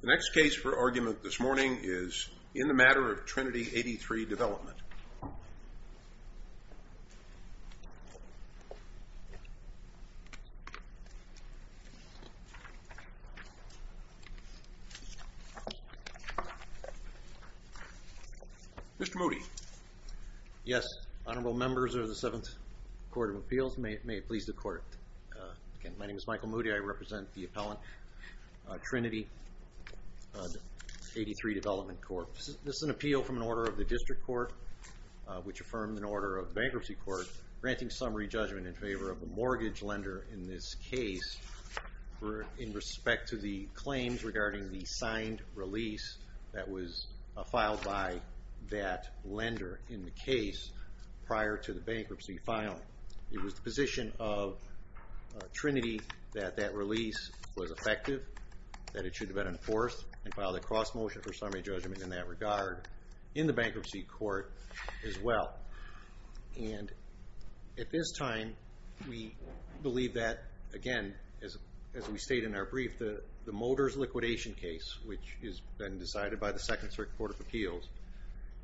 The next case for argument this morning is in the matter of Trinity 83 Development. Mr. Moody. Yes, honorable members of the Seventh Court of Appeals, may it please the court. My name is Michael Moody, I represent the appellant Trinity 83 Development Corps. This is an appeal from an order of the district court, which affirmed an order of the bankruptcy court, granting summary judgment in favor of a mortgage lender in this case, in respect to the claims regarding the signed release that was filed by that lender in the case prior to the bankruptcy filing. It was the position of Trinity that that release was effective, that it should have been enforced, and filed a cross motion for summary judgment in that regard, in the bankruptcy court as well. And at this time, we believe that, again, as we state in our brief, the Motors liquidation case, which has been decided by the Second Circuit Court of Appeals,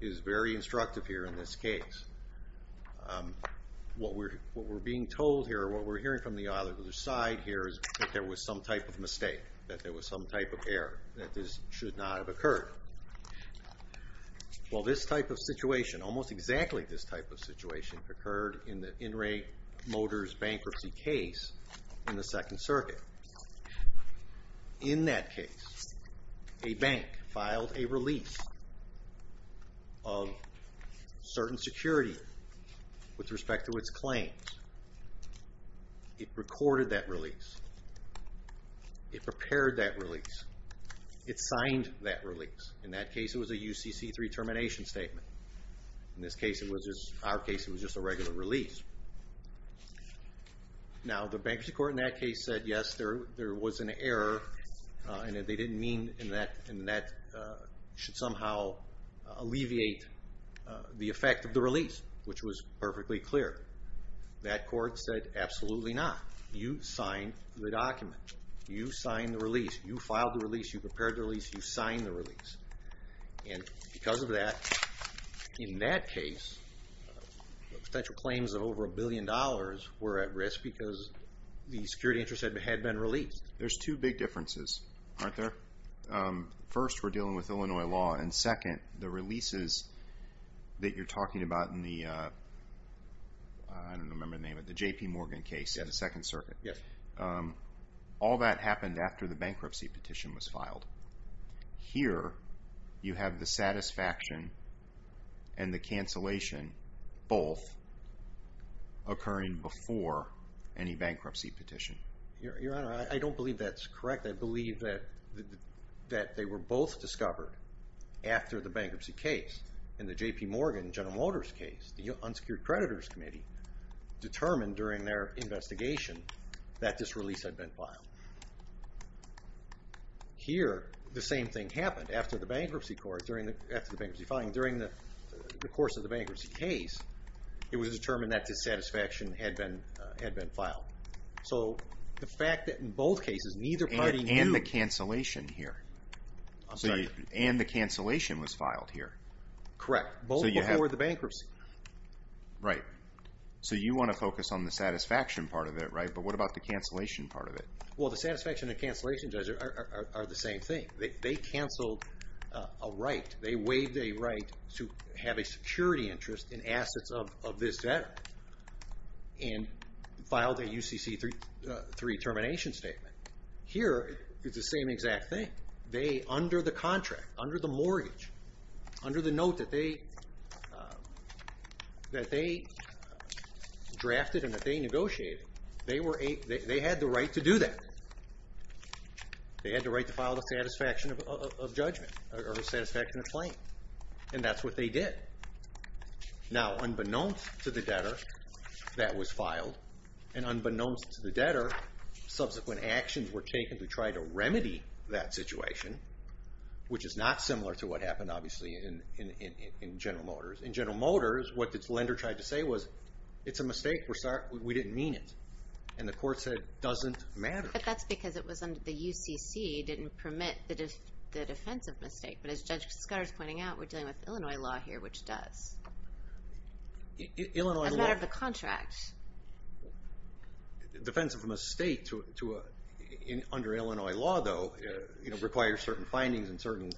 is very instructive here in this case. What we're being told here, what we're hearing from the other side here, is that there was some type of mistake, that there was some type of error, that this should not have occurred. Well, this type of situation, almost exactly this type of situation, occurred in the Enright Motors bankruptcy case in the Second Circuit. In that case, a bank filed a release of certain security with respect to its claims. It recorded that release, it prepared that release, it signed that release. In that case, it was a UCC3 termination statement. In this case, it was just, our case, it was just a regular release. Now, the bankruptcy court in that case said, yes, there was an error, and that they didn't mean, and that should somehow alleviate the effect of the release, which was perfectly clear. That court said, absolutely not. You signed the document. You signed the release. You filed the release. You prepared the release. You signed the release. And because of that, in that case, potential claims of over a billion dollars were at risk because the security interest had been released. There's two big differences, aren't there? First, we're dealing with Illinois law, and second, the releases that you're talking about in the, I don't remember the name of it, the J.P. Morgan case in the Second Circuit. All that happened after the bankruptcy petition was filed. Here, you have the satisfaction and the cancellation both occurring before any bankruptcy petition. Your Honor, I don't believe that's correct. I believe that they were both discovered after the bankruptcy case. In the J.P. Morgan, General Motors case, the Unsecured Creditors Committee determined during their investigation that this release had been filed. Here, the same thing happened. After the bankruptcy court, after the bankruptcy filing, during the course of the bankruptcy case, it was determined that dissatisfaction had been filed. So the fact that in both cases, neither party knew. And the cancellation here. I'm sorry? And the cancellation was filed here. Correct. Both before the bankruptcy. Right. So you want to focus on the satisfaction part of it, right? But what about the cancellation part of it? Well, the satisfaction and cancellation are the same thing. They canceled a right. They waived a right to have a security interest in assets of this debtor. And filed a UCC-3 termination statement. Here, it's the same exact thing. They, under the contract, under the mortgage, under the note that they drafted and that they negotiated, they had the right to do that. They had the right to file the satisfaction of judgment. Or the satisfaction of claim. And that's what they did. Now, unbeknownst to the debtor, that was filed. And unbeknownst to the debtor, subsequent actions were taken to try to remedy that situation, which is not similar to what happened, obviously, in General Motors. In General Motors, what the lender tried to say was, it's a mistake. We're sorry. We didn't mean it. And the court said, doesn't matter. But that's because it was under the UCC. It didn't permit the defensive mistake. But as Judge Scudder is pointing out, we're dealing with Illinois law here, which does. A matter of the contract. Defensive mistake under Illinois law, though, requires certain findings and certain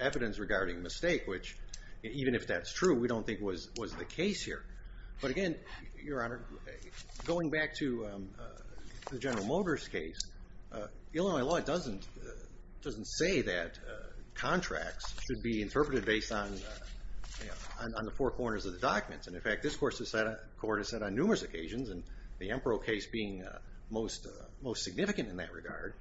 evidence regarding mistake, which, even if that's true, we don't think was the case here. But again, Your Honor, going back to the General Motors case, Illinois law doesn't say that contracts should be interpreted based on the four corners of the documents. And in fact, this court has said on numerous occasions, and the Empro case being most significant in that regard,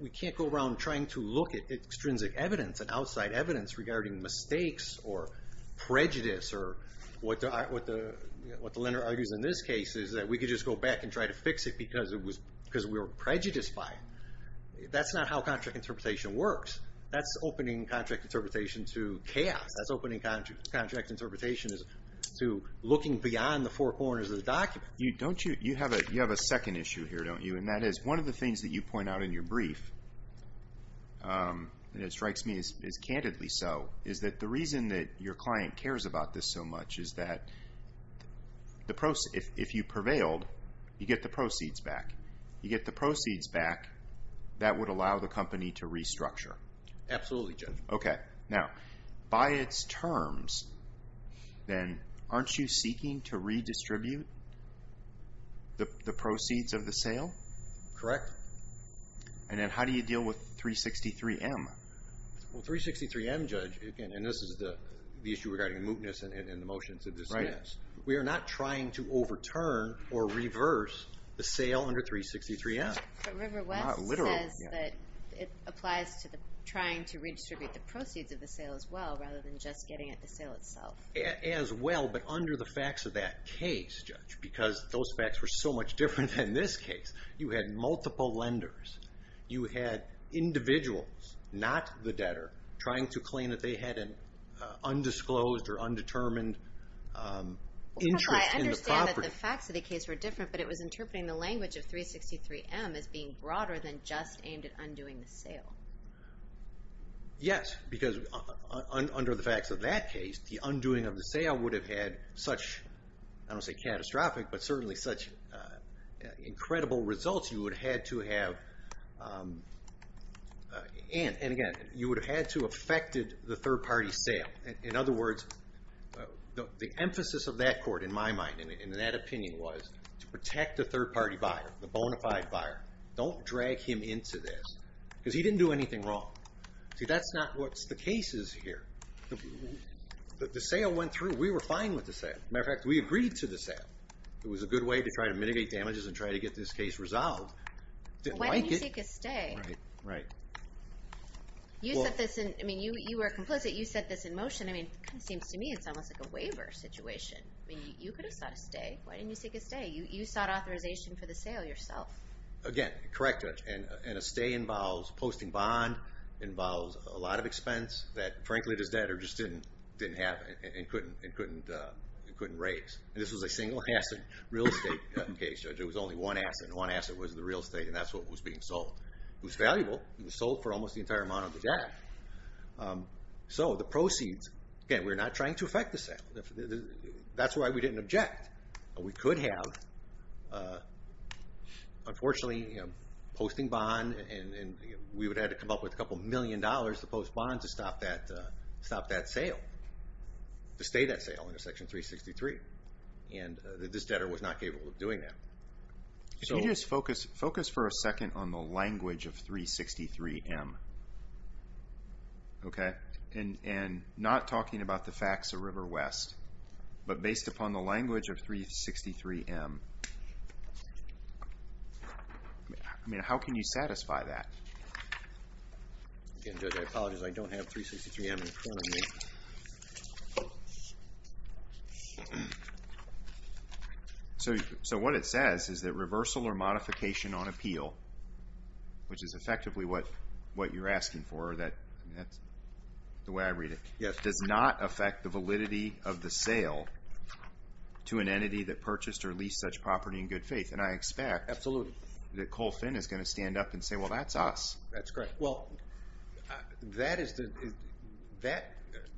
we can't go around trying to look at extrinsic evidence and outside evidence regarding mistakes or prejudice, or what the lender argues in this case is that we could just go back and try to fix it because we were prejudiced by it. That's not how contract interpretation works. That's opening contract interpretation to chaos. That's opening contract interpretation to looking beyond the four corners of the document. You have a second issue here, don't you? And that is, one of the things that you point out in your brief, and it strikes me as candidly so, is that the reason that your client cares about this so much is that if you prevailed, you get the proceeds back. You get the proceeds back, that would allow the company to restructure. Absolutely, Judge. Okay, now, by its terms, then, aren't you seeking to redistribute the proceeds of the sale? Correct. And then how do you deal with 363M? Well, 363M, Judge, and this is the issue regarding mootness in the motions of this case, we are not trying to overturn or reverse the sale under 363M. But River West says that it applies to trying to redistribute the proceeds of the sale as well, rather than just getting at the sale itself. As well, but under the facts of that case, Judge, because those facts were so much different than this case. You had multiple lenders. You had individuals, not the debtor, trying to claim that they had an undisclosed or undetermined interest in the property. I understand that the facts of the case were different, but it was interpreting the language of 363M as being broader than just aimed at undoing the sale. Yes, because under the facts of that case, the undoing of the sale would have had such, I don't want to say catastrophic, but certainly such incredible results you would have had to have, and again, you would have had to have affected the third-party sale. In other words, the emphasis of that court, in my mind, and in that opinion, was to protect the third-party buyer, the bona fide buyer. Don't drag him into this, because he didn't do anything wrong. See, that's not what the case is here. The sale went through. We were fine with the sale. As a matter of fact, we agreed to the sale. It was a good way to try to mitigate damages and try to get this case resolved. Why didn't you seek a stay? Right. You were complicit. You set this in motion. It seems to me it's almost like a waiver situation. You could have sought a stay. Why didn't you seek a stay? You sought authorization for the sale yourself. Again, correct, Judge, and a stay involves posting bond, involves a lot of expense that, frankly, the debtor just didn't have and couldn't raise. This was a single-asset real estate case, Judge. It was only one asset, and one asset was the real estate, and that's what was being sold. It was valuable. It was sold for almost the entire amount of the debt. So the proceeds, again, we're not trying to affect the sale. That's why we didn't object. We could have, unfortunately, posting bond, and we would have had to come up with a couple million dollars to post bond to stop that sale, to stay that sale under Section 363, and this debtor was not capable of doing that. Can you just focus for a second on the language of 363M? Okay? And not talking about the facts of River West, but based upon the language of 363M. I mean, how can you satisfy that? Again, Judge, I apologize. I don't have 363M in front of me. So what it says is that reversal or modification on appeal, which is effectively what you're asking for, that's the way I read it, does not affect the validity of the sale to an entity that purchased or leased such property in good faith. And I expect that Cole Finn is going to stand up and say, well, that's us. That's correct. Well, that is the...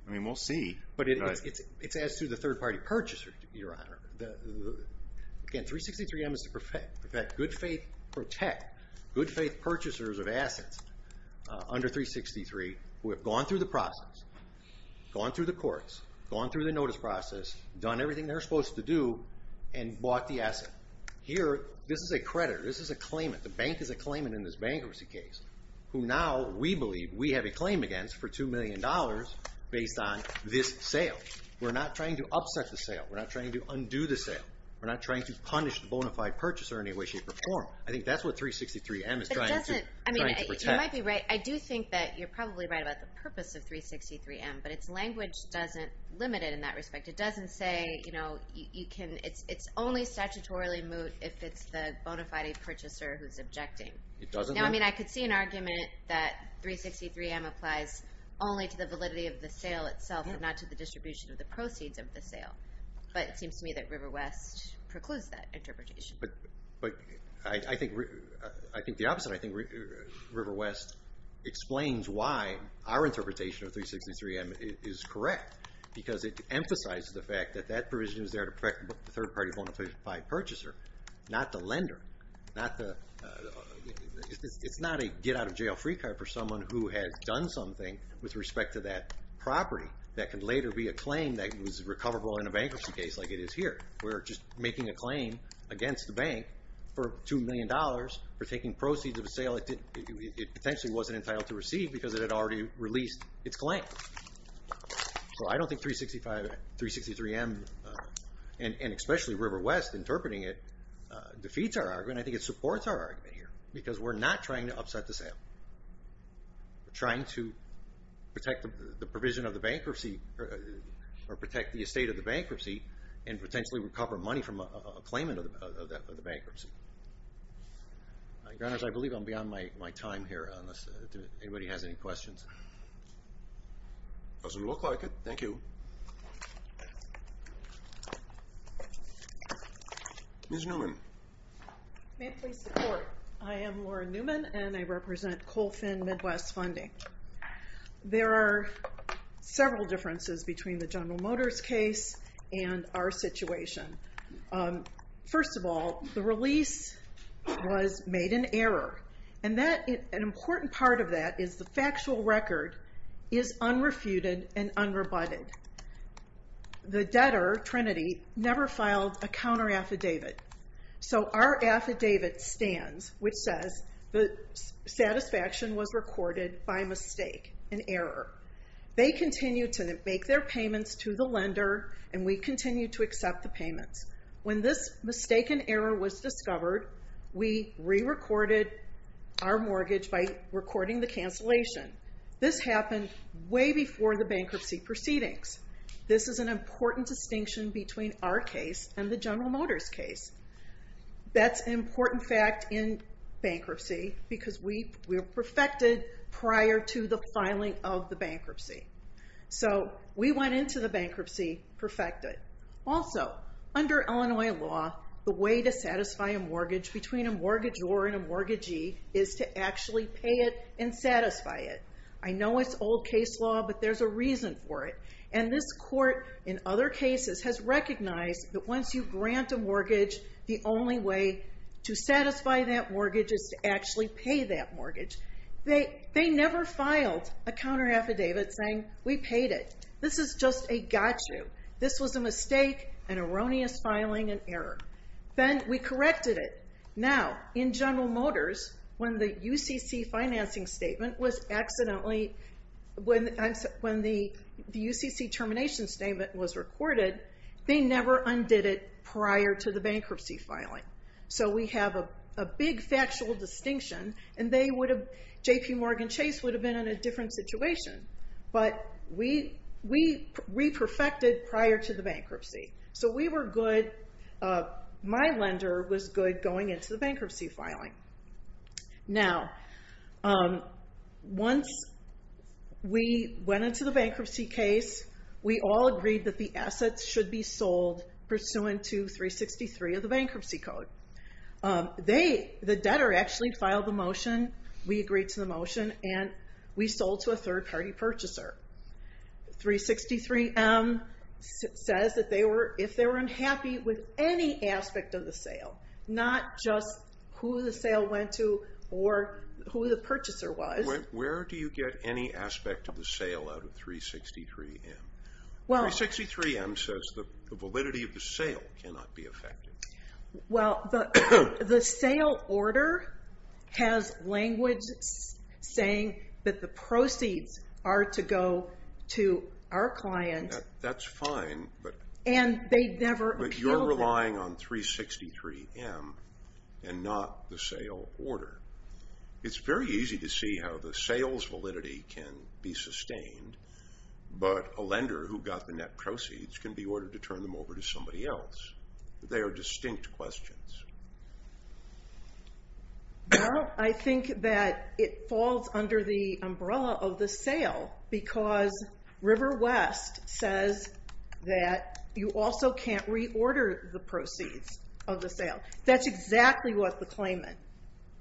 I mean, we'll see. But it's as to the third-party purchaser, Your Honor. Again, 363M is to protect good faith purchasers of assets under 363 who have gone through the process, gone through the courts, gone through the notice process, done everything they're supposed to do, and bought the asset. Here, this is a creditor. This is a claimant. The bank is a claimant in this bankruptcy case, who now we believe we have a claim against for $2 million based on this sale. We're not trying to upset the sale. We're not trying to undo the sale. We're not trying to punish the bona fide purchaser in any way, shape, or form. I think that's what 363M is trying to protect. You might be right. I do think that you're probably right about the purpose of 363M, but its language doesn't limit it in that respect. It doesn't say it's only statutorily moot if it's the bona fide purchaser who's objecting. I could see an argument that 363M applies only to the validity of the sale itself and not to the distribution of the proceeds of the sale, but it seems to me that Riverwest precludes that interpretation. But I think the opposite. I think Riverwest explains why our interpretation of 363M is correct because it emphasizes the fact that that provision is there to protect the third-party bona fide purchaser, not the lender. It's not a get-out-of-jail-free card for someone who has done something with respect to that property that can later be a claim that was recoverable in a bankruptcy case like it is here. We're just making a claim against the bank for $2 million for taking proceeds of a sale it potentially wasn't entitled to receive because it had already released its claim. So I don't think 363M, and especially Riverwest interpreting it, defeats our argument. I think it supports our argument here because we're not trying to upset the sale. We're trying to protect the provision of the bankruptcy or protect the estate of the bankruptcy and potentially recover money from a claimant of the bankruptcy. Your Honors, I believe I'm beyond my time here unless anybody has any questions. Doesn't look like it. Thank you. Ms. Newman. May I please support? I am Lauren Newman, and I represent Colfin Midwest Funding. There are several differences between the General Motors case and our situation. First of all, the release was made in error, and an important part of that is the factual record is unrefuted and unrebutted. The debtor, Trinity, never filed a counter-affidavit. So our affidavit stands, which says the satisfaction was recorded by mistake and error. They continue to make their payments to the lender, and we continue to accept the payments. When this mistake and error was discovered, we re-recorded our mortgage by recording the cancellation. This happened way before the bankruptcy proceedings. This is an important distinction between our case and the General Motors case. That's an important fact in bankruptcy because we were perfected prior to the filing of the bankruptcy. So we went into the bankruptcy perfected. Also, under Illinois law, the way to satisfy a mortgage between a mortgagor and a mortgagee is to actually pay it and satisfy it. I know it's old case law, but there's a reason for it. And this court, in other cases, has recognized that once you grant a mortgage, the only way to satisfy that mortgage is to actually pay that mortgage. They never filed a counter-affidavit saying, We paid it. This is just a gotcha. Then we corrected it. Now, in General Motors, when the UCC termination statement was recorded, they never undid it prior to the bankruptcy filing. So we have a big factual distinction, and JPMorgan Chase would have been in a different situation. But we re-perfected prior to the bankruptcy. So we were good. My lender was good going into the bankruptcy filing. Now, once we went into the bankruptcy case, we all agreed that the assets should be sold pursuant to 363 of the bankruptcy code. The debtor actually filed the motion. We agreed to the motion, and we sold to a third-party purchaser. 363M says that if they were unhappy with any aspect of the sale, not just who the sale went to or who the purchaser was. Where do you get any aspect of the sale out of 363M? 363M says the validity of the sale cannot be affected. Well, the sale order has language saying that the proceeds are to go to our client. That's fine, but you're relying on 363M and not the sale order. It's very easy to see how the sales validity can be sustained, but a lender who got the net proceeds can be ordered to turn them over to somebody else. They are distinct questions. Well, I think that it falls under the umbrella of the sale because River West says that you also can't reorder the proceeds of the sale. That's exactly what the claimant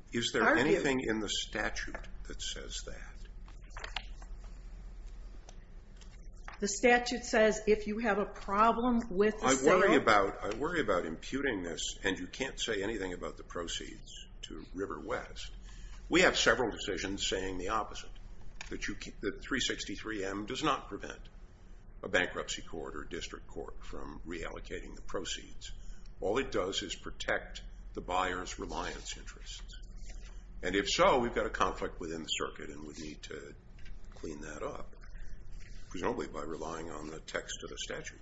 argued. Is there anything in the statute that says that? I worry about imputing this, and you can't say anything about the proceeds to River West. We have several decisions saying the opposite, that 363M does not prevent a bankruptcy court or district court from reallocating the proceeds. All it does is protect the buyer's reliance interests. And if so, we've got a conflict within the circuit, and we need to clean that up, presumably by relying on the text of the statute.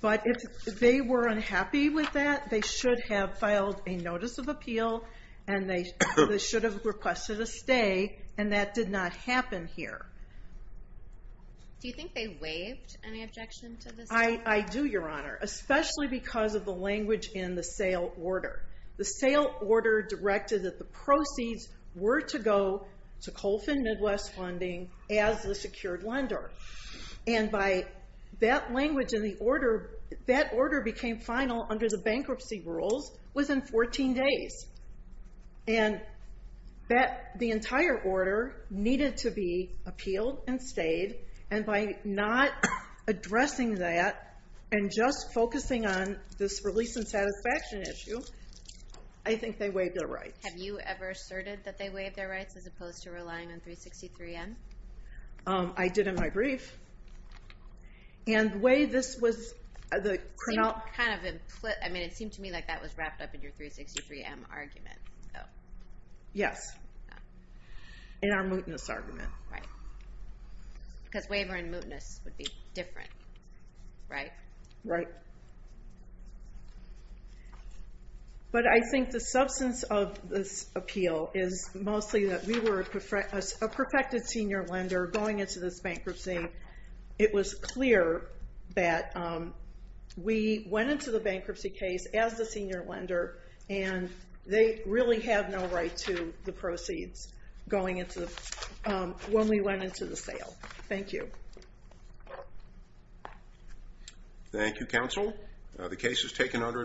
But if they were unhappy with that, they should have filed a notice of appeal, and they should have requested a stay, and that did not happen here. Do you think they waived any objection to this? I do, Your Honor, especially because of the language in the sale order. The sale order directed that the proceeds were to go to Colfin Midwest Funding as the secured lender, and by that language in the order, that order became final under the bankruptcy rules within 14 days. And the entire order needed to be appealed and stayed, and by not addressing that and just focusing on this release and satisfaction issue, I think they waived their rights. Have you ever asserted that they waived their rights as opposed to relying on 363-M? I did in my brief. And the way this was the criminal... It seemed to me like that was wrapped up in your 363-M argument. Yes, in our mootness argument. Right, because waiver and mootness would be different, right? Right. But I think the substance of this appeal is mostly that we were a perfected senior lender going into this bankruptcy. It was clear that we went into the bankruptcy case as the senior lender, and they really have no right to the proceeds going into the... when we went into the sale. Thank you. Thank you, counsel. The case is taken under advisement.